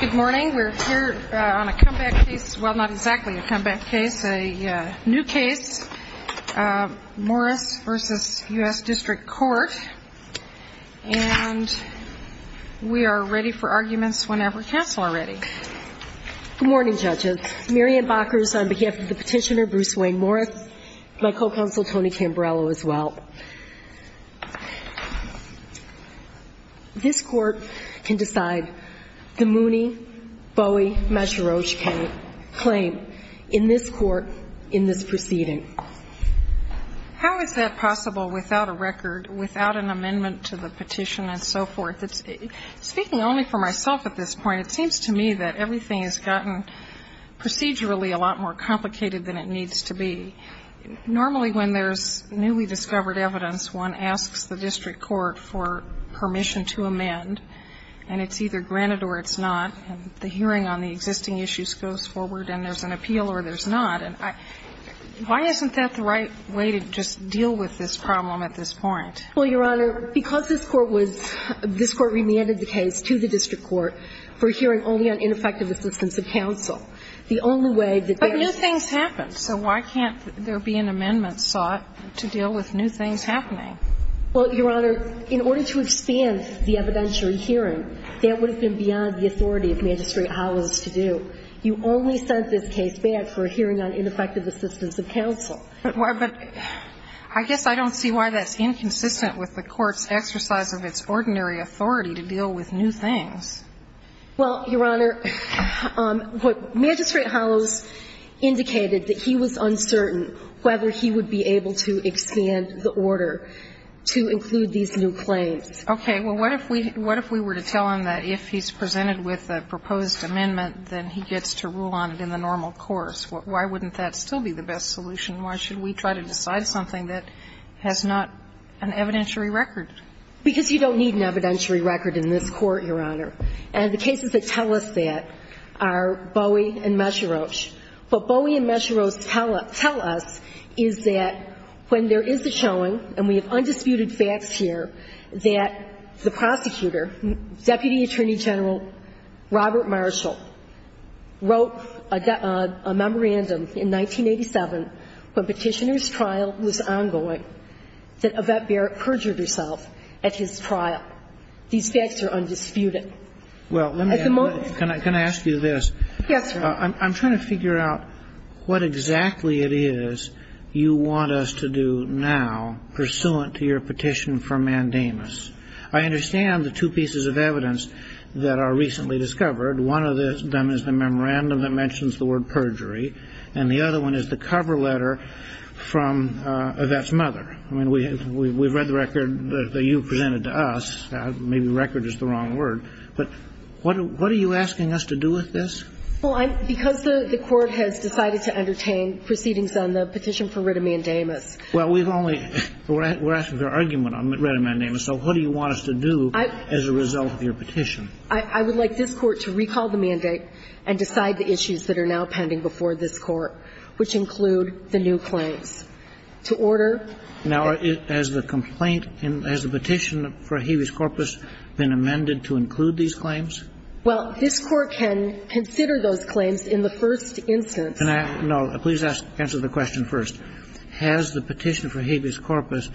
Good morning. We're here on a comeback case. Well, not exactly a comeback case. A new case. Morris v. U.S. District Court. And we are ready for arguments whenever counsel are ready. Good morning, judges. Marianne Bokers on behalf of the petitioner, Bruce Wayne Morris. My co-counsel, Tony Cambrello, as well. This court can decide. The Mooney, Bowie, Mesherosh can claim in this court, in this proceeding. How is that possible without a record, without an amendment to the petition and so forth? Speaking only for myself at this point, it seems to me that everything has gotten procedurally a lot more complicated than it needs to be. Normally when there's newly discovered evidence, one asks the district court for permission to amend. And it's either granted or it's not. And the hearing on the existing issues goes forward and there's an appeal or there's not. And why isn't that the right way to just deal with this problem at this point? Well, Your Honor, because this court was, this court remanded the case to the district court for hearing only on ineffective assistance of counsel. The only way that there's But new things happen. So why can't there be an amendment sought to deal with new things happening? Well, Your Honor, in order to expand the evidentiary hearing, that would have been beyond the authority of Magistrate Hollows to do. You only sent this case back for a hearing on ineffective assistance of counsel. But I guess I don't see why that's inconsistent with the court's exercise of its ordinary authority to deal with new things. Well, Your Honor, Magistrate Hollows indicated that he was uncertain whether he would be able to expand the order to include these new claims. Okay. Well, what if we were to tell him that if he's presented with a proposed amendment, then he gets to rule on it in the normal course? Why wouldn't that still be the best solution? Why should we try to decide something that has not an evidentiary record? Because you don't need an evidentiary record in this Court, Your Honor. And the cases that tell us that are Bowie and Mesherosh. What Bowie and Mesherosh tell us is that when there is a showing, and we have undisputed facts here, that the prosecutor, Deputy Attorney General Robert Marshall, wrote a memorandum in 1987 when Petitioner's trial was ongoing that Yvette Barrett perjured herself at his trial. These facts are undisputed. Well, let me ask you this. Yes, sir. I'm trying to figure out what exactly it is you want us to do now pursuant to your petition for mandamus. I understand the two pieces of evidence that are recently discovered. One of them is the memorandum that mentions the word perjury, and the other one is the cover letter from Yvette's mother. I mean, we've read the record that you presented to us. Maybe record is the wrong word. But what are you asking us to do with this? Well, because the Court has decided to entertain proceedings on the petition for writ of mandamus. Well, we've only, we're asking for argument on writ of mandamus. So what do you want us to do as a result of your petition? I would like this Court to recall the mandate and decide the issues that are now pending before this Court, which include the new claims. To order. Now, has the complaint, has the petition for habeas corpus been amended to include these claims? Well, this Court can consider those claims in the first instance. Can I, no, please answer the question first. Has the petition for habeas corpus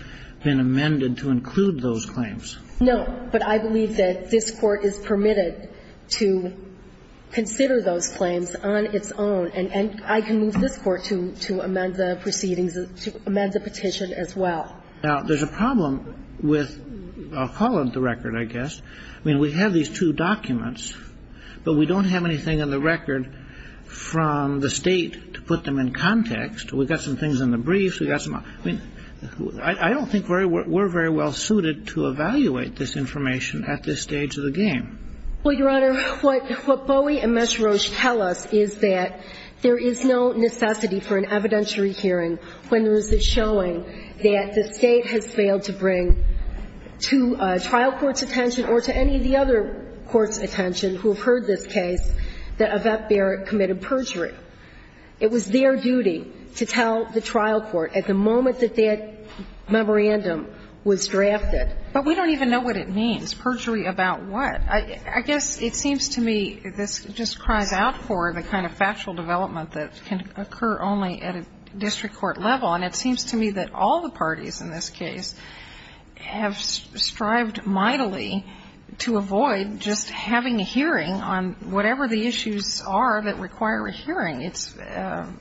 been amended to include those claims? No. But I believe that this Court is permitted to consider those claims on its own. And I can move this Court to amend the proceedings, to amend the petition as well. Now, there's a problem with, I'll call it the record, I guess. I mean, we have these two documents, but we don't have anything on the record from the State to put them in context. We've got some things in the briefs. We've got some other. I mean, I don't think we're very well suited to evaluate this information at this stage of the game. Well, Your Honor, what Bowie and Mesherosh tell us is that there is no necessity for an evidentiary hearing when there is a showing that the State has failed to bring to trial court's attention or to any of the other courts' attention who have heard this case that Evette Barrett committed perjury. It was their duty to tell the trial court at the moment that that memorandum was drafted. But we don't even know what it means. Perjury about what? I guess it seems to me this just cries out for the kind of factual development that can occur only at a district court level. And it seems to me that all the parties in this case have strived mightily to avoid just having a hearing on whatever the issues are that require a hearing. It's a ----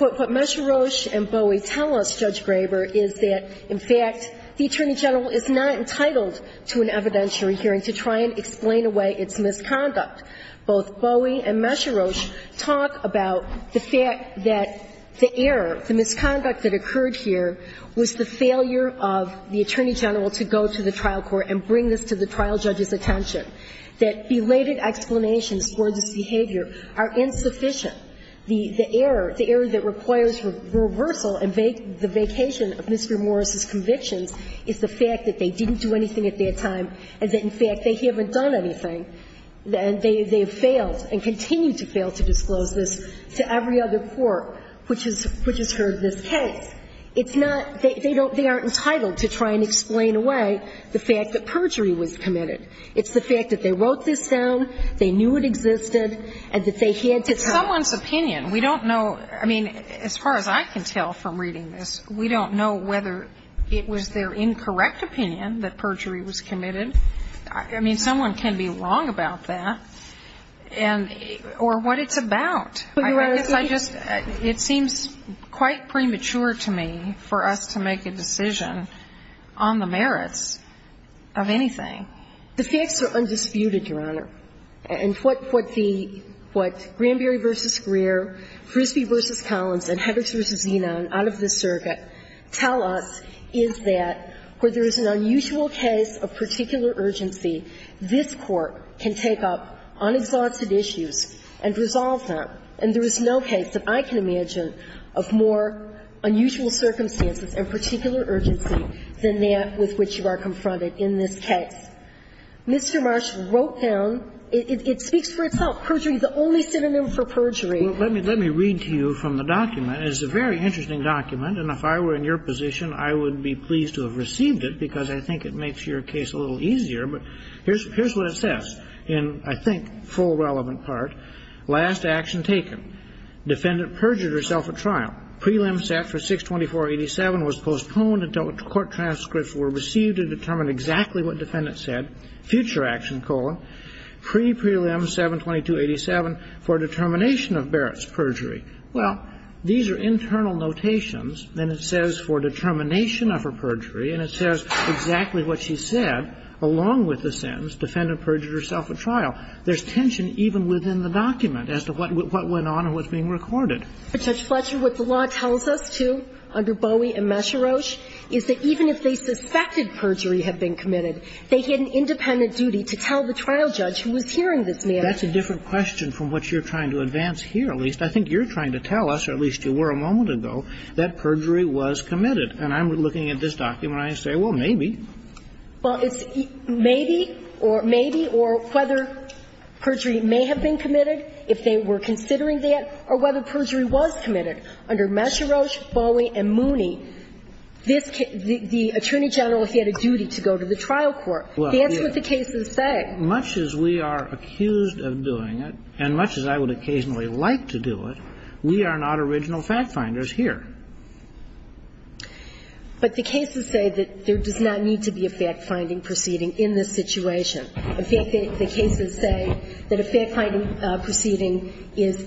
But what Mesherosh and Bowie tell us, Judge Graber, is that, in fact, the Attorney General is not entitled to an evidentiary hearing to try and explain away its misconduct. Both Bowie and Mesherosh talk about the fact that the error, the misconduct that occurred here, was the failure of the Attorney General to go to the trial court and bring this to the trial judge's attention, that belated explanations for this behavior are insufficient. The error that requires reversal and the vacation of Mr. Morris' convictions is the fact that they didn't do anything at that time and that, in fact, they haven't done anything. They have failed and continue to fail to disclose this to every other court which has heard this case. It's not they don't they aren't entitled to try and explain away the fact that perjury was committed. It's the fact that they wrote this down, they knew it existed, and that they had to tell. It's someone's opinion. We don't know. I mean, as far as I can tell from reading this, we don't know whether it was their incorrect opinion that perjury was committed. I mean, someone can be wrong about that, and or what it's about. I guess I just, it seems quite premature to me for us to make a decision on the merits of anything. The facts are undisputed, Your Honor, and what the, what Granberry v. Greer, Frisbee v. Collins, and Heberts v. Zena, and out of this circuit, tell us is that where there is an unusual case of particular urgency, this Court can take up unexhausted issues and resolve them. And there is no case that I can imagine of more unusual circumstances and particular urgency than that with which you are confronted in this case. Mr. Marsh wrote down, it speaks for itself, perjury is the only synonym for perjury. Let me, let me read to you from the document. It's a very interesting document, and if I were in your position, I would be pleased to have received it, because I think it makes your case a little easier. But here's, here's what it says, in, I think, full relevant part. Last action taken. Defendant perjured herself at trial. Prelim set for 624.87 was postponed until court transcripts were received to determine exactly what defendant said. Future action, colon, pre-prelim 722.87 for determination of Barrett's perjury. Well, these are internal notations, and it says for determination of her perjury, and it says exactly what she said, along with the sentence, defendant perjured herself at trial. There's tension even within the document as to what went on and what's being recorded. But, Judge Fletcher, what the law tells us, too, under Bowie and Mesherosh, is that even if they suspected perjury had been committed, they had an independent duty to tell the trial judge who was hearing this man. That's a different question from what you're trying to advance here, at least. I think you're trying to tell us, or at least you were a moment ago, that perjury was committed. And I'm looking at this document, and I say, well, maybe. Well, it's maybe or maybe or whether perjury may have been committed, if they were considering that, or whether perjury was committed. Under Mesherosh, Bowie, and Mooney, this can't be the attorney general if he had a duty to go to the trial court. That's what the cases say. But much as we are accused of doing it, and much as I would occasionally like to do it, we are not original fact-finders here. But the cases say that there does not need to be a fact-finding proceeding in this situation. In fact, the cases say that a fact-finding proceeding is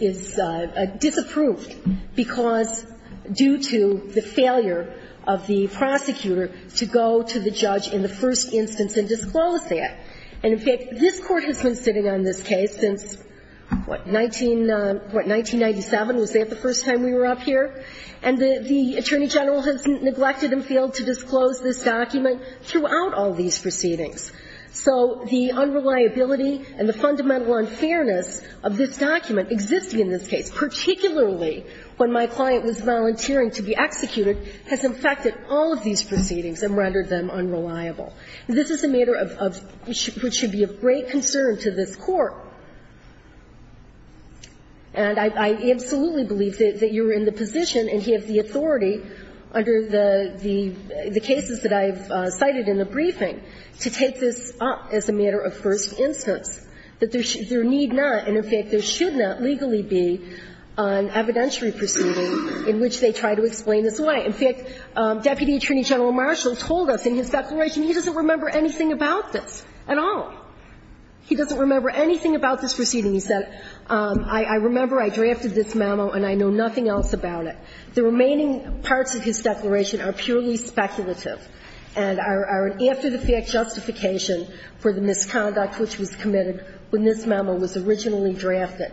disapproved because due to the failure of the prosecutor to go to the judge in the first instance and disclose that. And in fact, this Court has been sitting on this case since, what, 1997? Was that the first time we were up here? And the attorney general has neglected and failed to disclose this document throughout all these proceedings. So the unreliability and the fundamental unfairness of this document existing in this case, particularly when my client was volunteering to be executed, has infected all of these proceedings and rendered them unreliable. This is a matter of – which should be of great concern to this Court. And I absolutely believe that you're in the position, and you have the authority under the cases that I have cited in the briefing, to take this up as a matter of first instance, that there need not and, in fact, there should not legally be an evidentiary proceeding in which they try to explain this way. In fact, Deputy Attorney General Marshall told us in his declaration he doesn't remember anything about this at all. He doesn't remember anything about this proceeding. He said, I remember I drafted this memo and I know nothing else about it. The remaining parts of his declaration are purely speculative and are an after-the-fact justification for the misconduct which was committed when this memo was originally drafted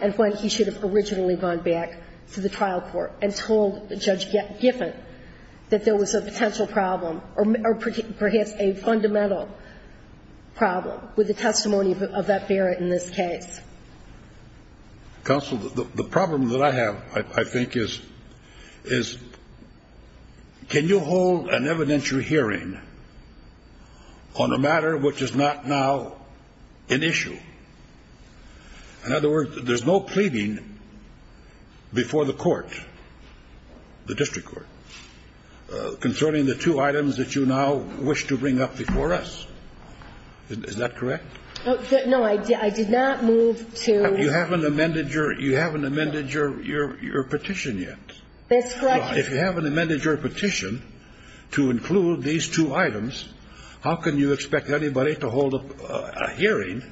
and when he should have originally gone back to the trial court and told Judge Giffen that there was a potential problem or perhaps a fundamental problem with the testimony of that Barrett in this case. Counsel, the problem that I have, I think, is can you hold an evidentiary hearing on a matter which is not now an issue? In other words, there's no pleading before the court, the district court, concerning the two items that you now wish to bring up before us. Is that correct? No, I did not move to You haven't amended your petition yet. That's correct. If you haven't amended your petition to include these two items, how can you expect anybody to hold a hearing,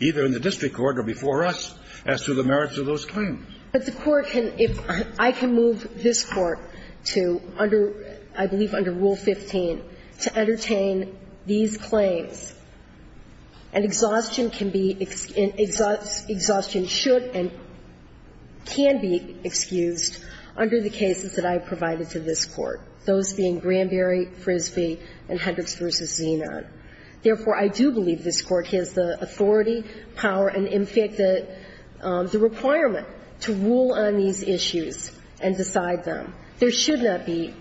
either in the district court or before us, as to the merits of those claims? But the court can, if I can move this Court to, under, I believe under Rule 15, to entertain these claims, and exhaustion can be, exhaustion should and can be excused under the cases that I provided to this Court, those being Granberry, Frisbee, and Hendricks v. Zenon. Therefore, I do believe this Court has the authority, power, and in fact, the requirement to rule on these issues and decide them. There should not be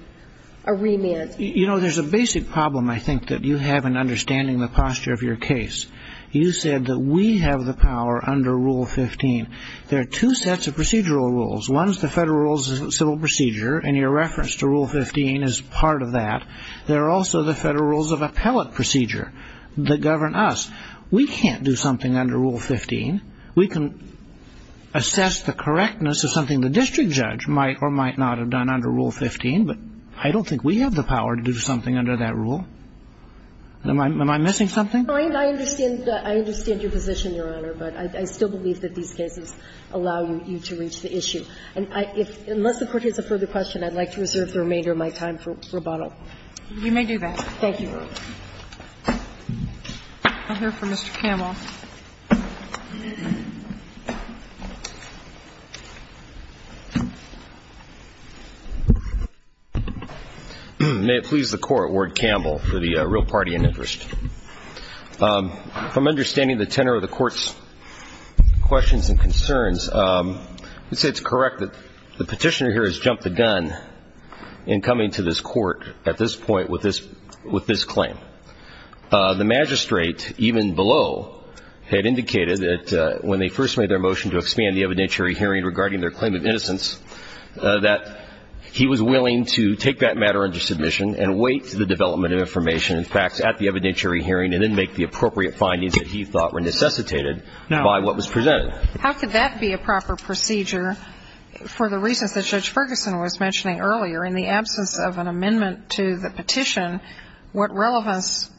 a remand. You know, there's a basic problem, I think, that you have in understanding the posture of your case. You said that we have the power under Rule 15. There are two sets of procedural rules. One is the Federal Rules of Civil Procedure, and your reference to Rule 15 is part of that. There are also the Federal Rules of Appellate Procedure that govern us. We can't do something under Rule 15. We can assess the correctness of something the district judge might or might not have done under Rule 15, but I don't think we have the power to do something under that rule. Am I missing something? I understand your position, Your Honor, but I still believe that these cases allow you to reach the issue. And unless the Court has a further question, I'd like to reserve the remainder of my time for rebuttal. You may do that. Thank you, Your Honor. I'll hear from Mr. Campbell. May it please the Court, Ward-Campbell, for the real party in interest. From understanding the tenor of the Court's questions and concerns, I'd say it's correct that the Petitioner here has jumped the gun in coming to this Court at this point with this claim. The magistrate, even below, had indicated that when they first made their motion to expand the evidentiary hearing regarding their claim of innocence, that he was willing to take that matter under submission and wait for the development of information and facts at the evidentiary hearing, and then make the appropriate findings that he thought were necessitated by what was presented. How could that be a proper procedure for the reasons that Judge Ferguson was mentioning earlier? In the absence of an amendment to the petition, what relevance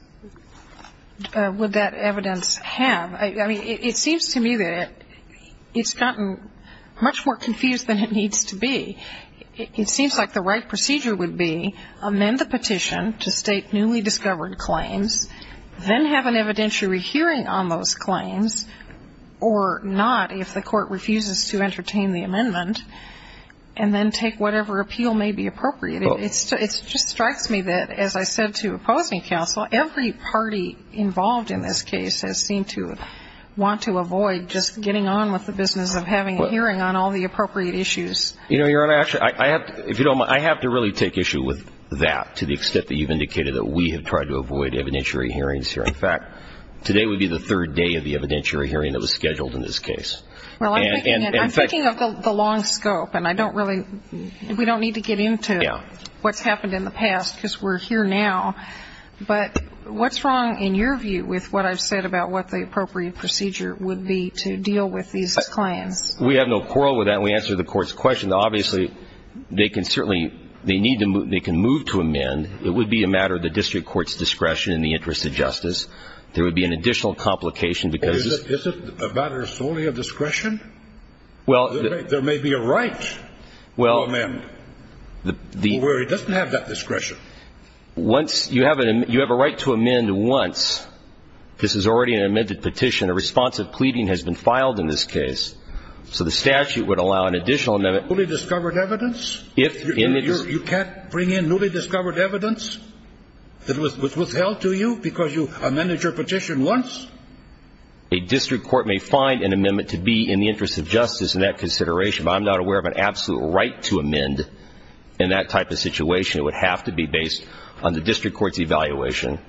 would that evidence have? I mean, it seems to me that it's gotten much more confused than it needs to be. It seems like the right procedure would be amend the petition to state newly if the Court refuses to entertain the amendment, and then take whatever appeal may be appropriate. It just strikes me that, as I said to opposing counsel, every party involved in this case has seemed to want to avoid just getting on with the business of having a hearing on all the appropriate issues. You know, Your Honor, actually, I have to really take issue with that, to the extent that you've indicated that we have tried to avoid evidentiary hearings here. In fact, today would be the third day of the evidentiary hearing that was scheduled in this case. Well, I'm thinking of the long scope, and I don't really – we don't need to get into what's happened in the past, because we're here now, but what's wrong, in your view, with what I've said about what the appropriate procedure would be to deal with these claims? We have no quarrel with that, and we answer the Court's question that, obviously, they can certainly – they need to move – they can move to amend. It would be a matter of the district court's discretion in the interest of justice. There would be an additional complication because – Is it a matter solely of discretion? Well – There may be a right to amend. Well, the – Where it doesn't have that discretion. Once – you have a right to amend once. This is already an amended petition. A responsive pleading has been filed in this case. So the statute would allow an additional amendment – Newly discovered evidence? If – You can't bring in newly discovered evidence that was held to you because you amended your petition once? A district court may find an amendment to be in the interest of justice in that consideration, but I'm not aware of an absolute right to amend in that type of situation. It would have to be based on the district court's evaluation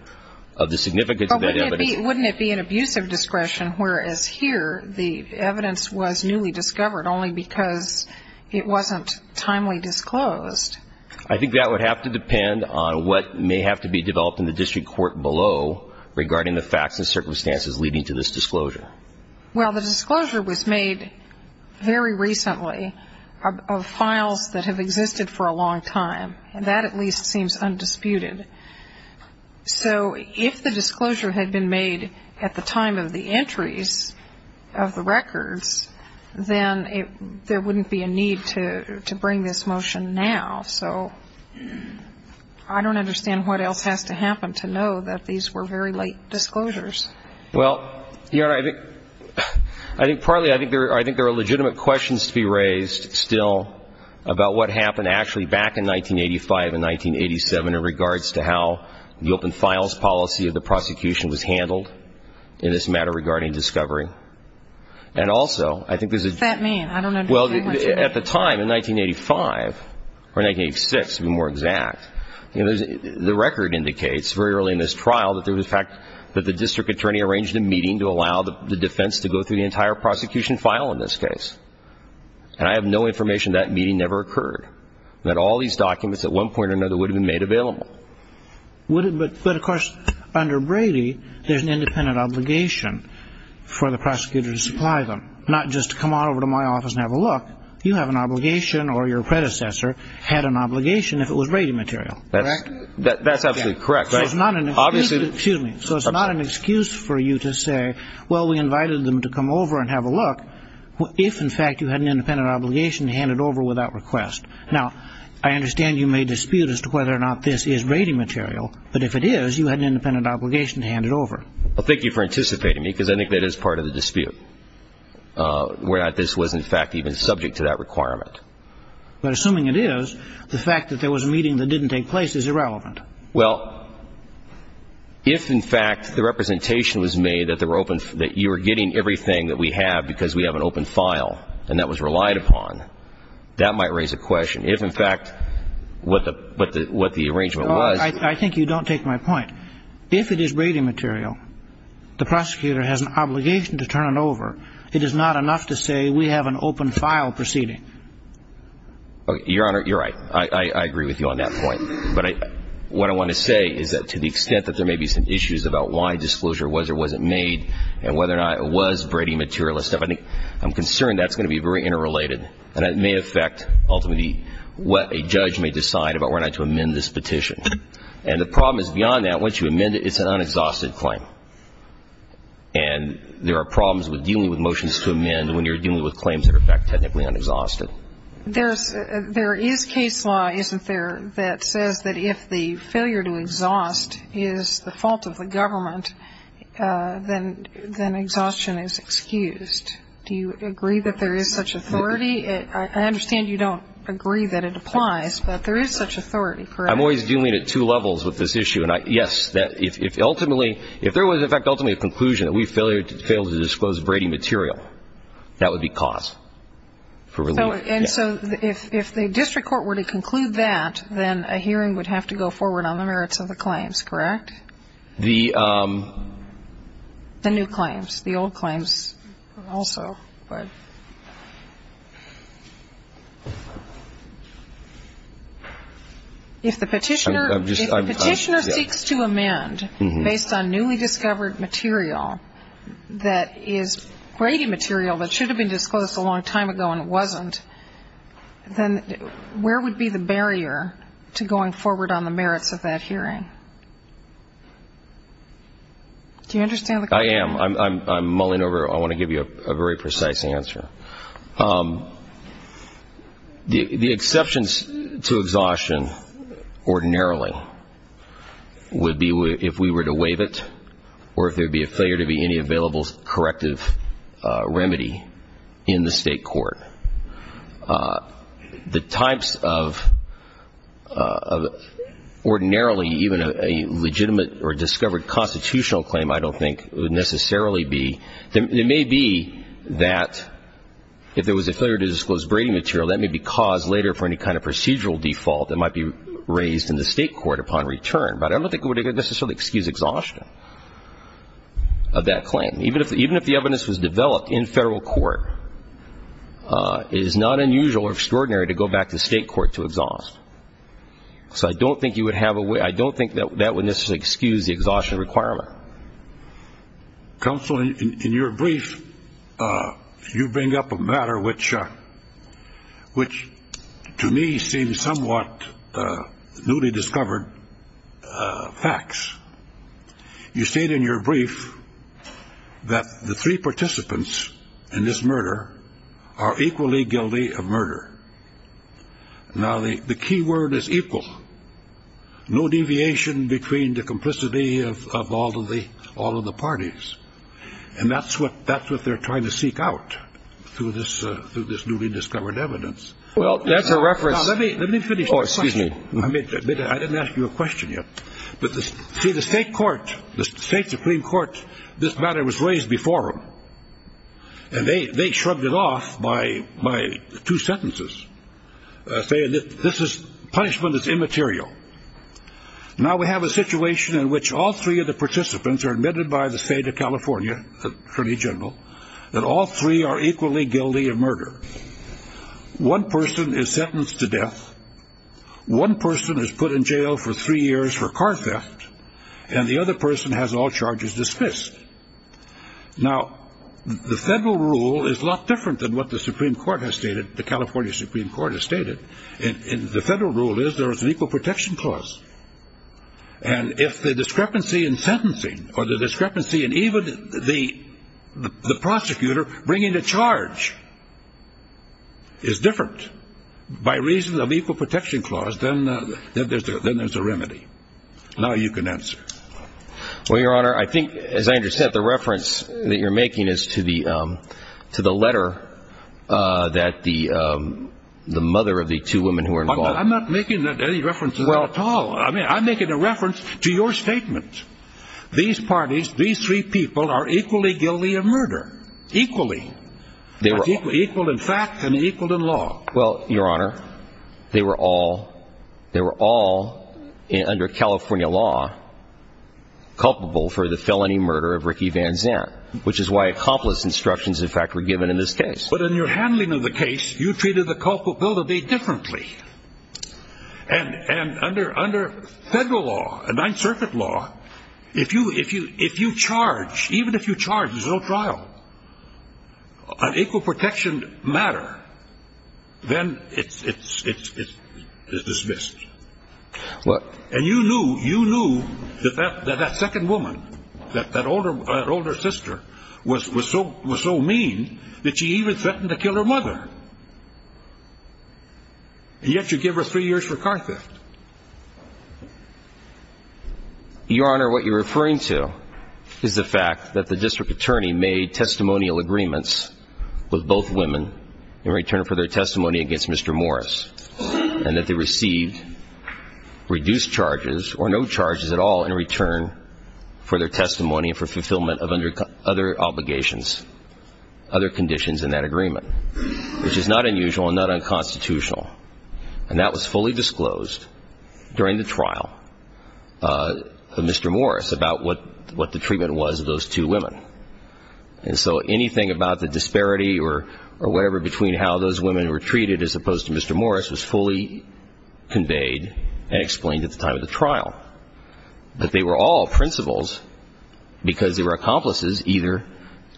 of the significance of that evidence. But wouldn't it be an abuse of discretion, whereas here the evidence was newly discovered only because it wasn't timely disclosed? I think that would have to depend on what may have to be developed in the district court below regarding the facts and circumstances leading to this disclosure. Well, the disclosure was made very recently of files that have existed for a long time, and that at least seems undisputed. So if the disclosure had been made at the time of the entries of the records, then there wouldn't be a need to bring this motion now. So I don't understand what else has to happen to know that these were very late disclosures. Well, Your Honor, I think partly I think there are legitimate questions to be raised still about what happened actually back in 1985 and 1987 in regards to how the open files policy of the prosecution was handled in this matter regarding discovery. And also I think there's a – What's that mean? I don't understand what you mean. Well, at the time in 1985 or 1986 to be more exact, the record indicates very early in this trial that there was in fact that the district attorney arranged a meeting to allow the defense to go through the entire prosecution file in this case. And I have no information that meeting never occurred, that all these documents at one point or another would have been made available. But of course under Brady, there's an independent obligation for the prosecutor to supply them, not just to come on over to my office and have a look. You have an obligation or your predecessor had an obligation if it was Brady material, correct? That's absolutely correct. So it's not an excuse for you to say, well, we invited them to come over and have a look if in fact you had an independent obligation to hand it over without request. Now, I understand you may dispute as to whether or not this is Brady material. But if it is, you had an independent obligation to hand it over. Well, thank you for anticipating me because I think that is part of the dispute, where this was in fact even subject to that requirement. But assuming it is, the fact that there was a meeting that didn't take place is irrelevant. Well, if in fact the representation was made that you were getting everything that we have because we have an open file and that was relied upon, that might raise a question. If in fact what the arrangement was. I think you don't take my point. If it is Brady material, the prosecutor has an obligation to turn it over. It is not enough to say we have an open file proceeding. Your Honor, you're right. I agree with you on that point. But what I want to say is that to the extent that there may be some issues about why disclosure was or wasn't made and whether or not it was Brady material and stuff, I'm concerned that's going to be very interrelated. And it may affect ultimately what a judge may decide about whether or not to amend this petition. And the problem is beyond that. Once you amend it, it's an unexhausted claim. And there are problems with dealing with motions to amend when you're dealing with claims that are technically unexhausted. There is case law, isn't there, that says that if the failure to exhaust is the fault of the government, then exhaustion is excused. Do you agree that there is such authority? I understand you don't agree that it applies, but there is such authority, correct? I'm always dealing at two levels with this issue. And, yes, if ultimately, if there was, in fact, ultimately a conclusion that we failed to disclose Brady material, that would be cause for relief. And so if the district court were to conclude that, then a hearing would have to go forward on the merits of the claims, correct? The new claims, the old claims also. But if the petitioner seeks to amend based on newly discovered material that is Brady material that should have been disclosed a long time ago and it wasn't, then where would be the barrier to going forward on the merits of that hearing? Do you understand the question? I am. I'm mulling over. I want to give you a very precise answer. The exceptions to exhaustion ordinarily would be if we were to waive it or if there would be a failure to be any available corrective remedy in the state court. The types of ordinarily even a legitimate or discovered constitutional claim I don't think would necessarily be. It may be that if there was a failure to disclose Brady material, that may be cause later for any kind of procedural default that might be raised in the state court upon return. But I don't think it would necessarily excuse exhaustion of that claim. Even if the evidence was developed in federal court, it is not unusual or extraordinary to go back to state court to exhaust. So I don't think you would have a way. I don't think that would necessarily excuse the exhaustion requirement. Counsel, in your brief, you bring up a matter which to me seems somewhat newly discovered facts. You state in your brief that the three participants in this murder are equally guilty of murder. Now, the key word is equal. No deviation between the complicity of all of the all of the parties. And that's what that's what they're trying to seek out through this through this newly discovered evidence. Well, that's a reference. Let me let me finish. Oh, excuse me. I mean, I didn't ask you a question yet. But the state court, the state Supreme Court, this matter was raised before him. And they shrugged it off by by two sentences. This is punishment is immaterial. Now we have a situation in which all three of the participants are admitted by the state of California Attorney General that all three are equally guilty of murder. One person is sentenced to death. One person is put in jail for three years for car theft, and the other person has all charges dismissed. Now, the federal rule is a lot different than what the Supreme Court has stated. The California Supreme Court has stated in the federal rule is there is an equal protection clause. And if the discrepancy in sentencing or the discrepancy in even the the prosecutor bringing the charge. Is different by reason of equal protection clause, then there's a remedy. Now you can answer. Well, Your Honor, I think, as I understand the reference that you're making is to the to the letter that the the mother of the two women who are involved. I'm not making that any references at all. I mean, I'm making a reference to your statement. These parties, these three people are equally guilty of murder equally. They were equal, in fact, and equal in law. Well, Your Honor, they were all they were all under California law. Culpable for the felony murder of Ricky Van Zandt, which is why accomplice instructions, in fact, were given in this case. But in your handling of the case, you treated the culpable to be differently. And and under under federal law, a Ninth Circuit law, if you if you if you charge, even if you charge, there's no trial. An equal protection matter. Then it's it's it's it's dismissed. What? And you knew you knew that that that second woman, that that older older sister, was was so was so mean that she even threatened to kill her mother. And yet you give her three years for car theft. Your Honor, what you're referring to is the fact that the district attorney made testimonial agreements with both women in return for their testimony against Mr. Morris and that they received reduced charges or no charges at all in return for their testimony and for fulfillment of other obligations, other conditions in that agreement, which is not unusual and not unconstitutional. And that was fully disclosed during the trial of Mr. Morris about what what the treatment was of those two women. And so anything about the disparity or or whatever between how those women were treated as opposed to Mr. Morris was fully conveyed and explained at the time of the trial. But they were all principals because they were accomplices, either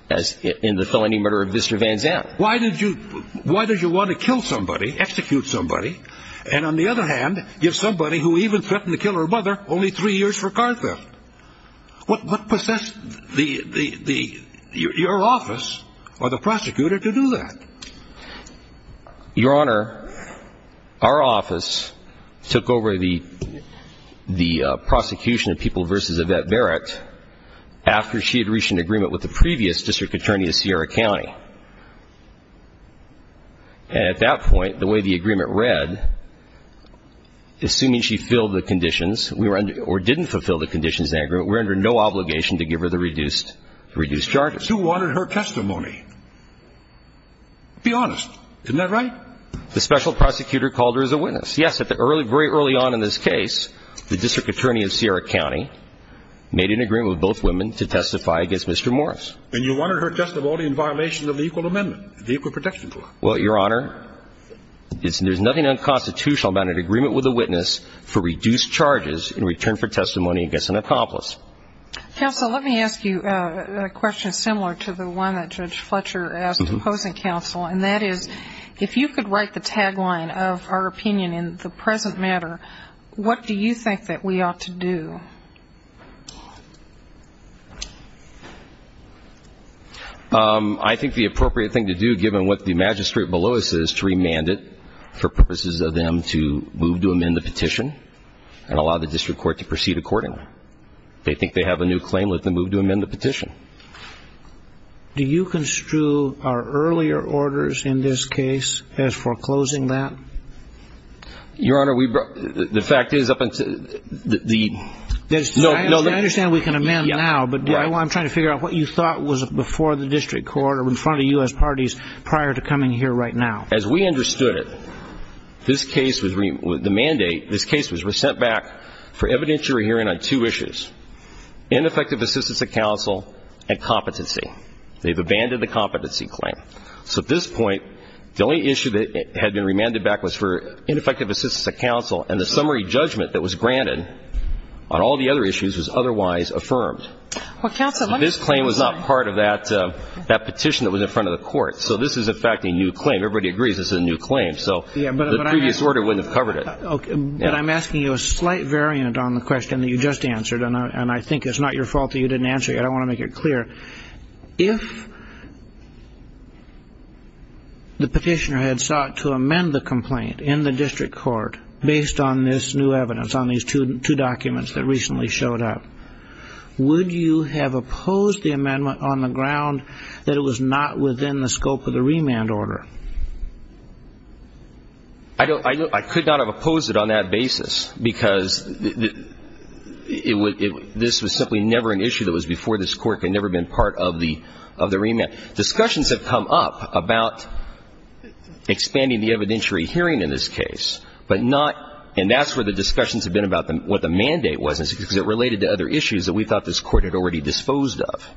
as in the felony murder of Mr. Van Zandt. Why did you why did you want to kill somebody, execute somebody? And on the other hand, give somebody who even threatened to kill her mother only three years for car theft? What possessed the the the your office or the prosecutor to do that? Your Honor, our office took over the the prosecution of people versus Yvette Barrett after she had reached an agreement with the previous district attorney of Sierra County. And at that point, the way the agreement read, assuming she filled the conditions we were or didn't fulfill the conditions, we're under no obligation to give her the reduced reduced charges. Who wanted her testimony? Be honest. Isn't that right? The special prosecutor called her as a witness. Yes, at the early very early on in this case, the district attorney of Sierra County made an agreement with both women to testify against Mr. Morris. And you wanted her testimony in violation of the Equal Amendment, the Equal Protection Clause. Well, Your Honor, there's nothing unconstitutional about an agreement with a witness for reduced charges in return for testimony against an accomplice. Counsel, let me ask you a question similar to the one that Judge Fletcher asked opposing counsel, and that is, if you could write the tagline of our opinion in the present matter, what do you think that we ought to do? I think the appropriate thing to do, given what the magistrate below us is to remand it for purposes of them to move to amend the petition and allow the district court to proceed accordingly. They think they have a new claim with the move to amend the petition. Do you construe our earlier orders in this case as foreclosing that? Your Honor, we brought the fact is up until the. I understand we can amend now, but I'm trying to figure out what you thought was before the district court or in front of US parties prior to coming here right now. As we understood it, this case was the mandate. This case was sent back for evidentiary hearing on two issues, ineffective assistance of counsel and competency. They've abandoned the competency claim. So at this point, the only issue that had been remanded back was for ineffective assistance of counsel and the summary judgment that was granted on all the other issues was otherwise affirmed. Well, counsel, this claim was not part of that petition that was in front of the court. So this is, in fact, a new claim. Everybody agrees it's a new claim. So the previous order wouldn't have covered it. OK, but I'm asking you a slight variant on the question that you just answered, and I think it's not your fault that you didn't answer. I don't want to make it clear if. The petitioner had sought to amend the complaint in the district court based on this new evidence on these two documents that recently showed up. Would you have opposed the amendment on the ground that it was not within the scope of the remand order? I could not have opposed it on that basis, because this was simply never an issue that was before this Court had never been part of the remand. Discussions have come up about expanding the evidentiary hearing in this case, but not – and that's where the discussions have been about what the mandate was, because it related to other issues that we thought this Court had already disposed of.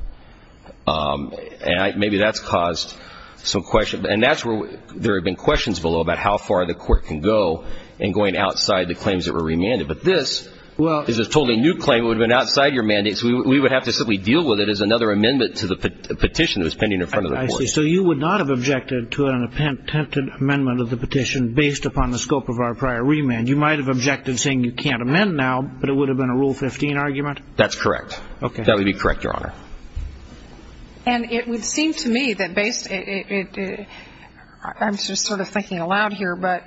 And maybe that's caused some questions. And that's where there have been questions below about how far the Court can go in going outside the claims that were remanded. But this is a totally new claim. It would have been outside your mandate, so we would have to simply deal with it as another amendment to the petition that was pending in front of the Court. I see. So you would not have objected to an attempted amendment of the petition based upon the scope of our prior remand. You might have objected, saying you can't amend now, but it would have been a Rule 15 argument? That's correct. OK. That would be correct, Your Honor. And it would seem to me that based – I'm just sort of thinking aloud here, but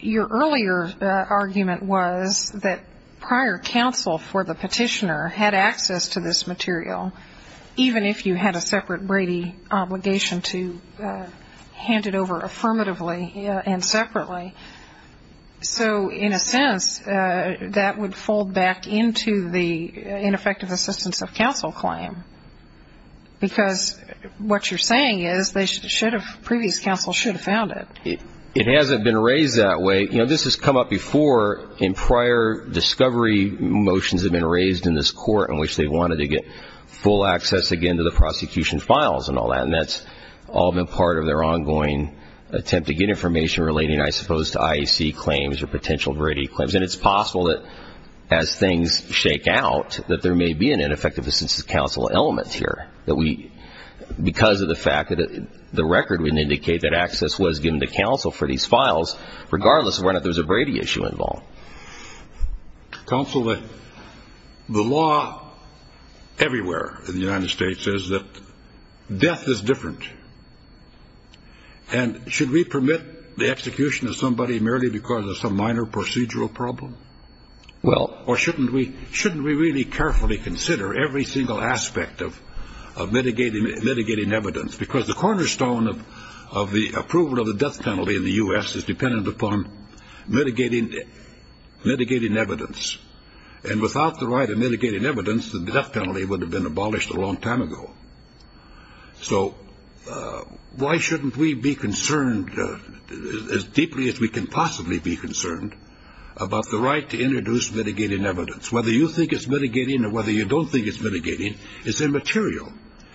your earlier argument was that prior counsel for the petitioner had access to this material, even if you had a separate Brady obligation to hand it over affirmatively and separately. So in a sense, that would fold back into the ineffective assistance of counsel claim. Because what you're saying is they should have – previous counsel should have found it. It hasn't been raised that way. You know, this has come up before in prior discovery motions have been raised in this Court in which they wanted to get full access again to the prosecution files and all that, and that's all been part of their ongoing attempt to get information relating, I suppose, to IEC claims or potential Brady claims. And it's possible that as things shake out, that there may be an ineffective assistance counsel element here that we – because of the fact that the record would indicate that access was given to counsel for these files, regardless of whether there was a Brady issue involved. Counsel, the law everywhere in the United States says that death is different. And should we permit the execution of somebody merely because of some minor procedural problem? Well – or shouldn't we really carefully consider every single aspect of mitigating evidence? Because the cornerstone of the approval of the death penalty in the U.S. is dependent upon mitigating evidence. And without the right of mitigating evidence, the death penalty would have been abolished a long time ago. So why shouldn't we be concerned as deeply as we can possibly be concerned about the right to introduce mitigating evidence? Whether you think it's mitigating or whether you don't think it's mitigating, it's immaterial.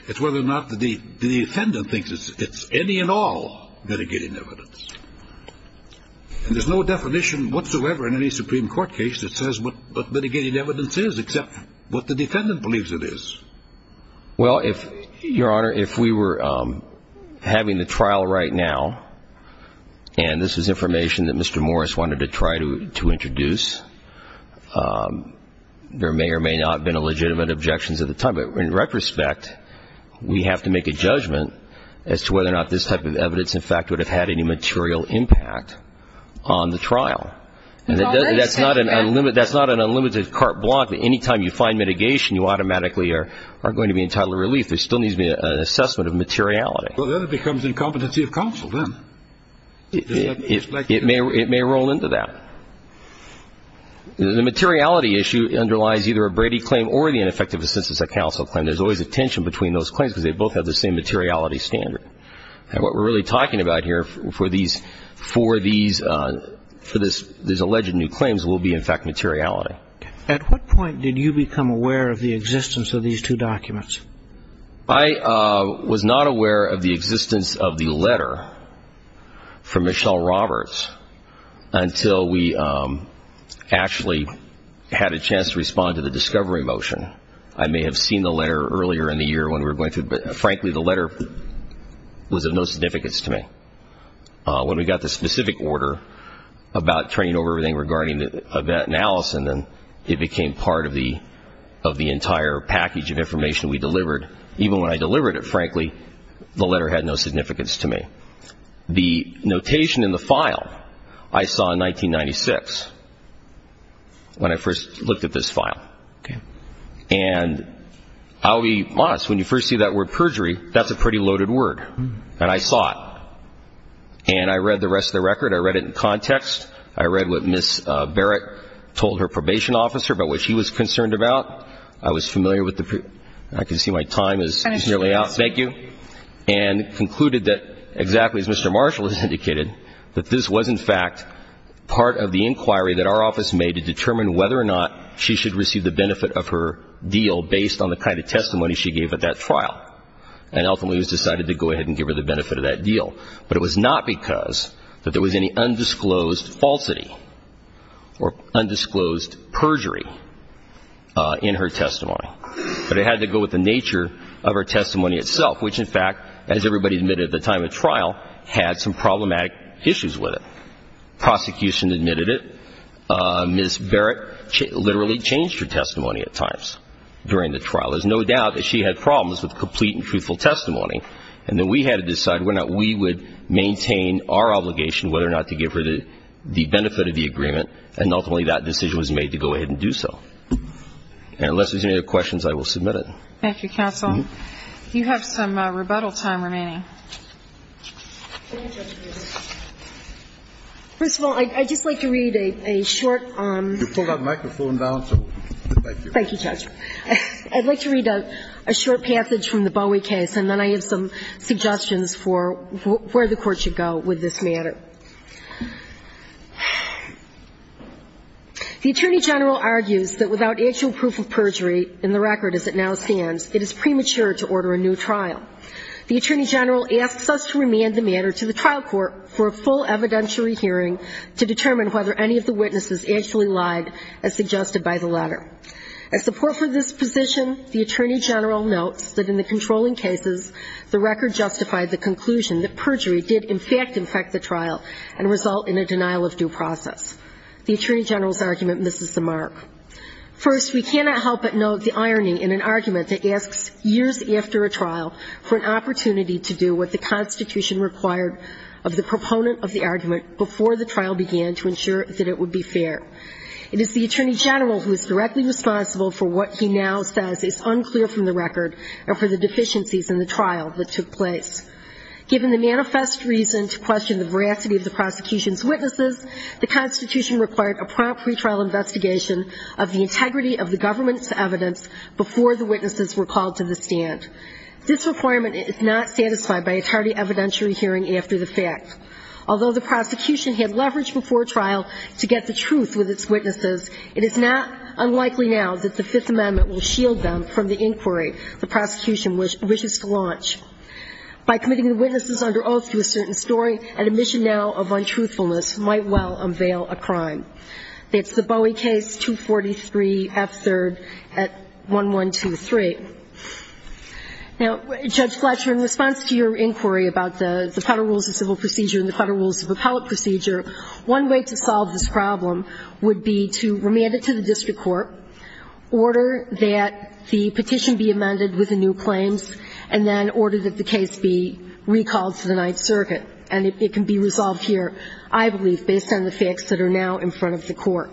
It's whether or not the defendant thinks it's any and all mitigating evidence. And there's no definition whatsoever in any Supreme Court case that says what mitigating evidence is, except what the defendant believes it is. Well, if – Your Honor, if we were having the trial right now, and this is information that Mr. Morris wanted to try to introduce, there may or may not have been legitimate objections at the time. But in retrospect, we have to make a judgment as to whether or not this type of evidence, in fact, would have had any material impact on the trial. And that's not an unlimited carte blanche that any time you find mitigation, you automatically are going to be entitled to relief. There still needs to be an assessment of materiality. Well, then it becomes incompetency of counsel, then. It may roll into that. The materiality issue underlies either a Brady claim or the ineffective assistance of counsel claim. There's always a tension between those claims because they both have the same materiality standard. And what we're really talking about here for these – for these – for these alleged new claims will be, in fact, materiality. At what point did you become aware of the existence of these two documents? I was not aware of the existence of the letter from Michelle Roberts until we actually had a chance to respond to the discovery motion. I may have seen the letter earlier in the year when we were going through it, but frankly, the letter was of no significance to me. When we got the specific order about turning over everything regarding the event in Allison, it became part of the – of the entire package of information we delivered. Even when I delivered it, frankly, the letter had no significance to me. The notation in the file I saw in 1996 when I first looked at this file. And I'll be honest, when you first see that word perjury, that's a pretty loaded word. And I saw it. And I read the rest of the record. I read it in context. I read what Ms. Barrett told her probation officer about what she was concerned about. I was familiar with the – I can see my time is nearly up. Thank you. And concluded that exactly as Mr. Marshall has indicated, that this was, in fact, part of the inquiry that our office made to determine whether or not she should receive the benefit of her deal based on the kind of testimony she gave at that trial. And ultimately, it was decided to go ahead and give her the benefit of that deal. But it was not because that there was any undisclosed falsity or undisclosed perjury in her testimony. But it had to go with the nature of her testimony itself, which, in fact, as everybody admitted at the time of trial, had some problematic issues with it. Prosecution admitted it. Ms. Barrett literally changed her testimony at times during the trial. There's no doubt that she had problems with complete and truthful testimony. And then we had to decide whether or not we would maintain our obligation, whether or not to give her the benefit of the agreement. And ultimately, that decision was made to go ahead and do so. And unless there's any other questions, I will submit it. Thank you, counsel. You have some rebuttal time remaining. First of all, I'd just like to read a short – You pulled that microphone down, so thank you. Thank you, Judge. I'd like to read a short passage from the Bowie case, and then I have some suggestions for where the Court should go with this matter. The Attorney General argues that without actual proof of perjury in the record as it now stands, it is premature to order a new trial. The Attorney General asks us to remand the matter to the trial court for a full evidentiary hearing to determine whether any of the witnesses actually lied, as suggested by the letter. As support for this position, the Attorney General notes that in the controlling cases, the record justified the conclusion that perjury did in fact infect the trial and result in a denial of due process. The Attorney General's argument misses the mark. First, we cannot help but note the irony in an argument that asks, years after a trial, for an opportunity to do what the Constitution required of the proponent of the argument before the trial began to ensure that it would be fair. It is the Attorney General who is directly responsible for what he now says is unclear from the record and for the deficiencies in the trial that took place. Given the manifest reason to question the veracity of the prosecution's witnesses, the Constitution required a prompt pretrial investigation of the integrity of the government's evidence before the witnesses were called to the stand. This requirement is not satisfied by a tardy evidentiary hearing after the fact. Although the prosecution had leveraged before trial to get the truth with its witnesses, it is not unlikely now that the Fifth Amendment will shield them from the inquiry the prosecution wishes to launch. By committing the witnesses under oath to a certain story, an admission now of untruthfulness might well unveil a crime. That's the Bowie case, 243 F. 3rd at 1123. Now, Judge Fletcher, in response to your inquiry about the Federal Rules of Civil Procedure and the Federal Rules of Appellate Procedure, one way to solve this problem would be to remand it to the district court, order that the petition be amended with the new claims, and then order that the case be recalled to the Ninth Circuit. And it can be resolved here, I believe, based on the facts that are now in front of the court.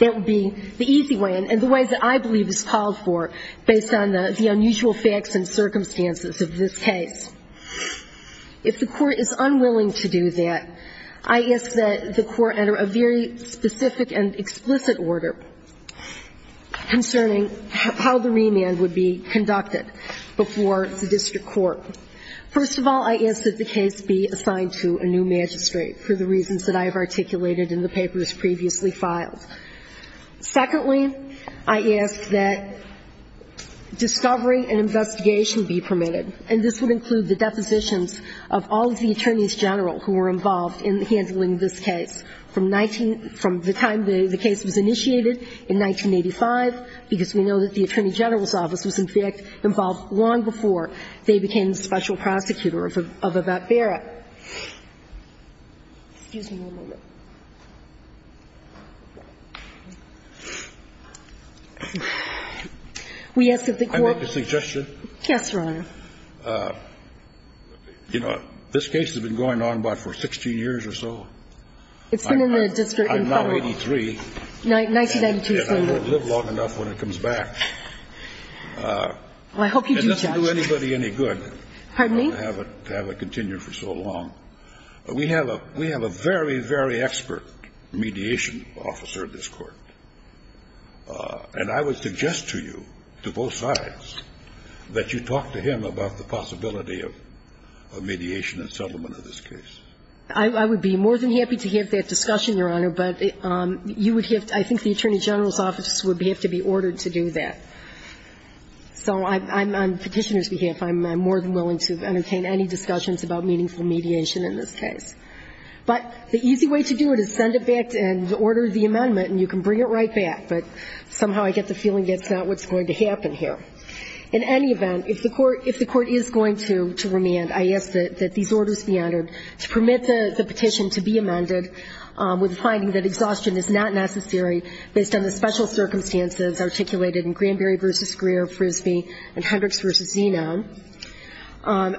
That would be the easy way, and the ways that I believe it's called for, based on the unusual facts and circumstances of this case. If the court is unwilling to do that, I ask that the court enter a very specific and explicit order concerning how the remand would be conducted before the district court. First of all, I ask that the case be assigned to a new magistrate for the reasons that I have articulated in the papers previously filed. Secondly, I ask that discovery and investigation be permitted. And this would include the depositions of all of the attorneys general who were involved in handling this case from the time the case was initiated in 1985, because we know that the attorney general's office was, in fact, involved long before they became the special prosecutor of Abbott Barrett. Excuse me one moment. We ask that the court – Can I make a suggestion? Yes, Your Honor. You know, this case has been going on about for 16 years or so. It's been in the district in federal – I'm now 83. 1992, same year. And I don't live long enough when it comes back. I hope you do, Judge. It doesn't do anybody any good – Pardon me? To have it continue for so long. We have a very, very expert mediation officer in this court. And I would suggest to you, to both sides, that you talk to him about the possibility of mediation and settlement of this case. I would be more than happy to have that discussion, Your Honor. But you would have to – I think the attorney general's office would have to be ordered to do that. So on Petitioner's behalf, I'm more than willing to entertain any discussions about meaningful mediation in this case. But the easy way to do it is send it back and order the amendment, and you can bring it right back. But somehow I get the feeling that's not what's going to happen here. In any event, if the court – if the court is going to remand, I ask that these orders be entered to permit the petition to be amended with the finding that exhaustion is not necessary based on the special circumstances articulated in Granberry v. Greer, Frisbee, and Hendricks v. Zeno,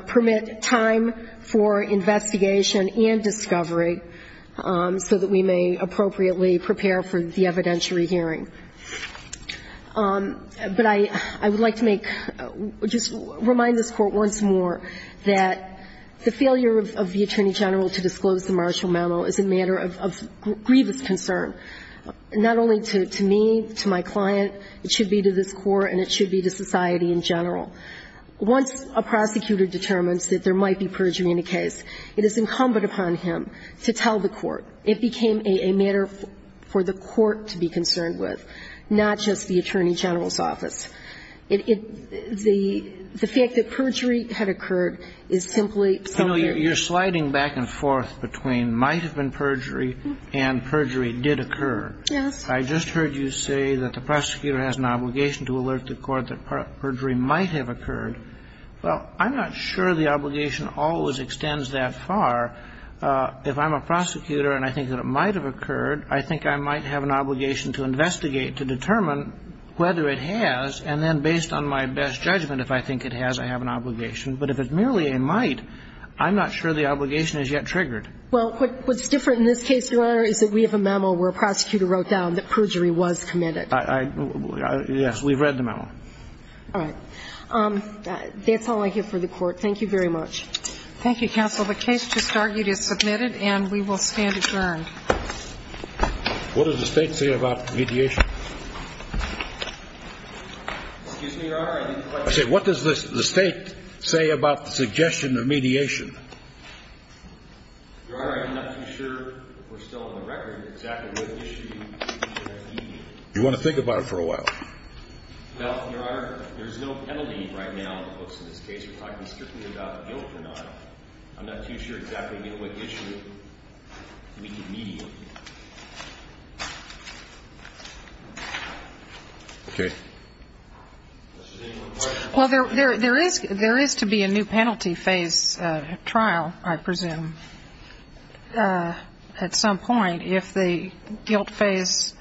permit time for investigation and discovery so that we may appropriately prepare for the evidentiary hearing. But I would like to make – just remind this Court once more that the failure of the attorney general to disclose the marshal memo is a matter of grievous concern, not only to me, to my client, it should be to this Court, and it should be to society in general. Once a prosecutor determines that there might be perjury in a case, it is incumbent upon him to tell the court. It became a matter for the court to be concerned with, not just the attorney general's office. It – the fact that perjury had occurred is simply something that you're sliding back and forth between might have been perjury and perjury did occur. Yes. I just heard you say that the prosecutor has an obligation to alert the court that perjury might have occurred. Well, I'm not sure the obligation always extends that far. If I'm a prosecutor and I think that it might have occurred, I think I might have an obligation to investigate to determine whether it has, and then based on my best judgment, if I think it has, I have an obligation. But if it's merely a might, I'm not sure the obligation is yet triggered. Well, what's different in this case, Your Honor, is that we have a memo where a prosecutor wrote down that perjury was committed. I – yes, we've read the memo. All right. That's all I have for the court. Thank you very much. Thank you, counsel. The case just argued is submitted, and we will stand adjourned. What does the State say about mediation? Excuse me, Your Honor, I didn't quite hear you. I said, what does the State say about the suggestion of mediation? Your Honor, I'm not too sure we're still on the record exactly what issue you're asking me. Do you want to think about it for a while? Well, Your Honor, there's no penalty right now in the books in this case. We're talking strictly about guilt or not. I'm not too sure exactly what issue we need mediation. Okay. Well, there is to be a new penalty phase trial, I presume, at some point if the guilt phase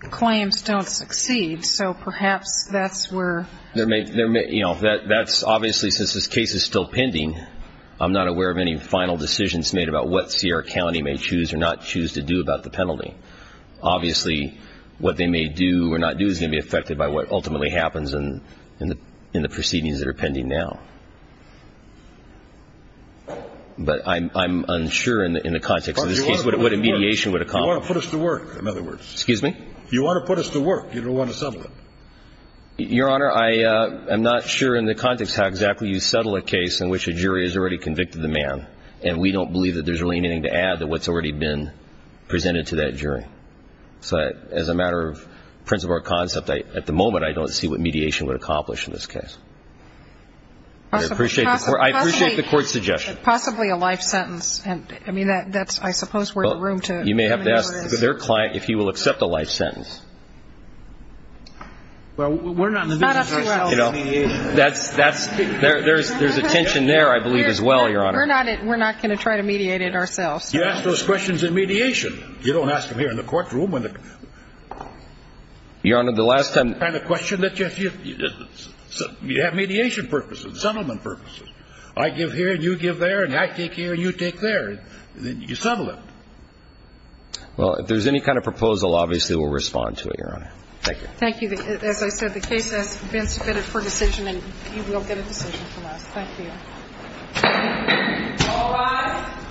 claims don't succeed. So perhaps that's where… There may – you know, that's – obviously, since this case is still pending, I'm not aware of any final decisions made about what Sierra County may choose or not choose to do about the penalty. Obviously, what they may do or not do is going to be affected by what ultimately happens in the proceedings that are pending now. But I'm unsure in the context of this case what a mediation would accomplish. You want to put us to work, in other words. Excuse me? You want to put us to work. You don't want to settle it. Your Honor, I am not sure in the context how exactly you settle a case in which a jury has already convicted the man. And we don't believe that there's really anything to add to what's already been presented to that jury. So as a matter of principle or concept, at the moment, I don't see what mediation would accomplish in this case. But I appreciate the court's suggestion. Possibly a life sentence. And I mean, that's – I suppose we're in the room to… You may have to ask their client if he will accept a life sentence. Well, we're not in the business of mediation. That's – there's a tension there, I believe, as well, Your Honor. We're not going to try to mediate it ourselves. You ask those questions in mediation. You don't ask them here in the courtroom. Your Honor, the last time… The kind of question that you have mediation purposes, settlement purposes. I give here and you give there, and I take here and you take there. You settle it. Well, if there's any kind of proposal, obviously, we'll respond to it, Your Honor. Thank you. Thank you. As I said, the case has been submitted for decision, and you will get a decision from us. Thank you. All rise.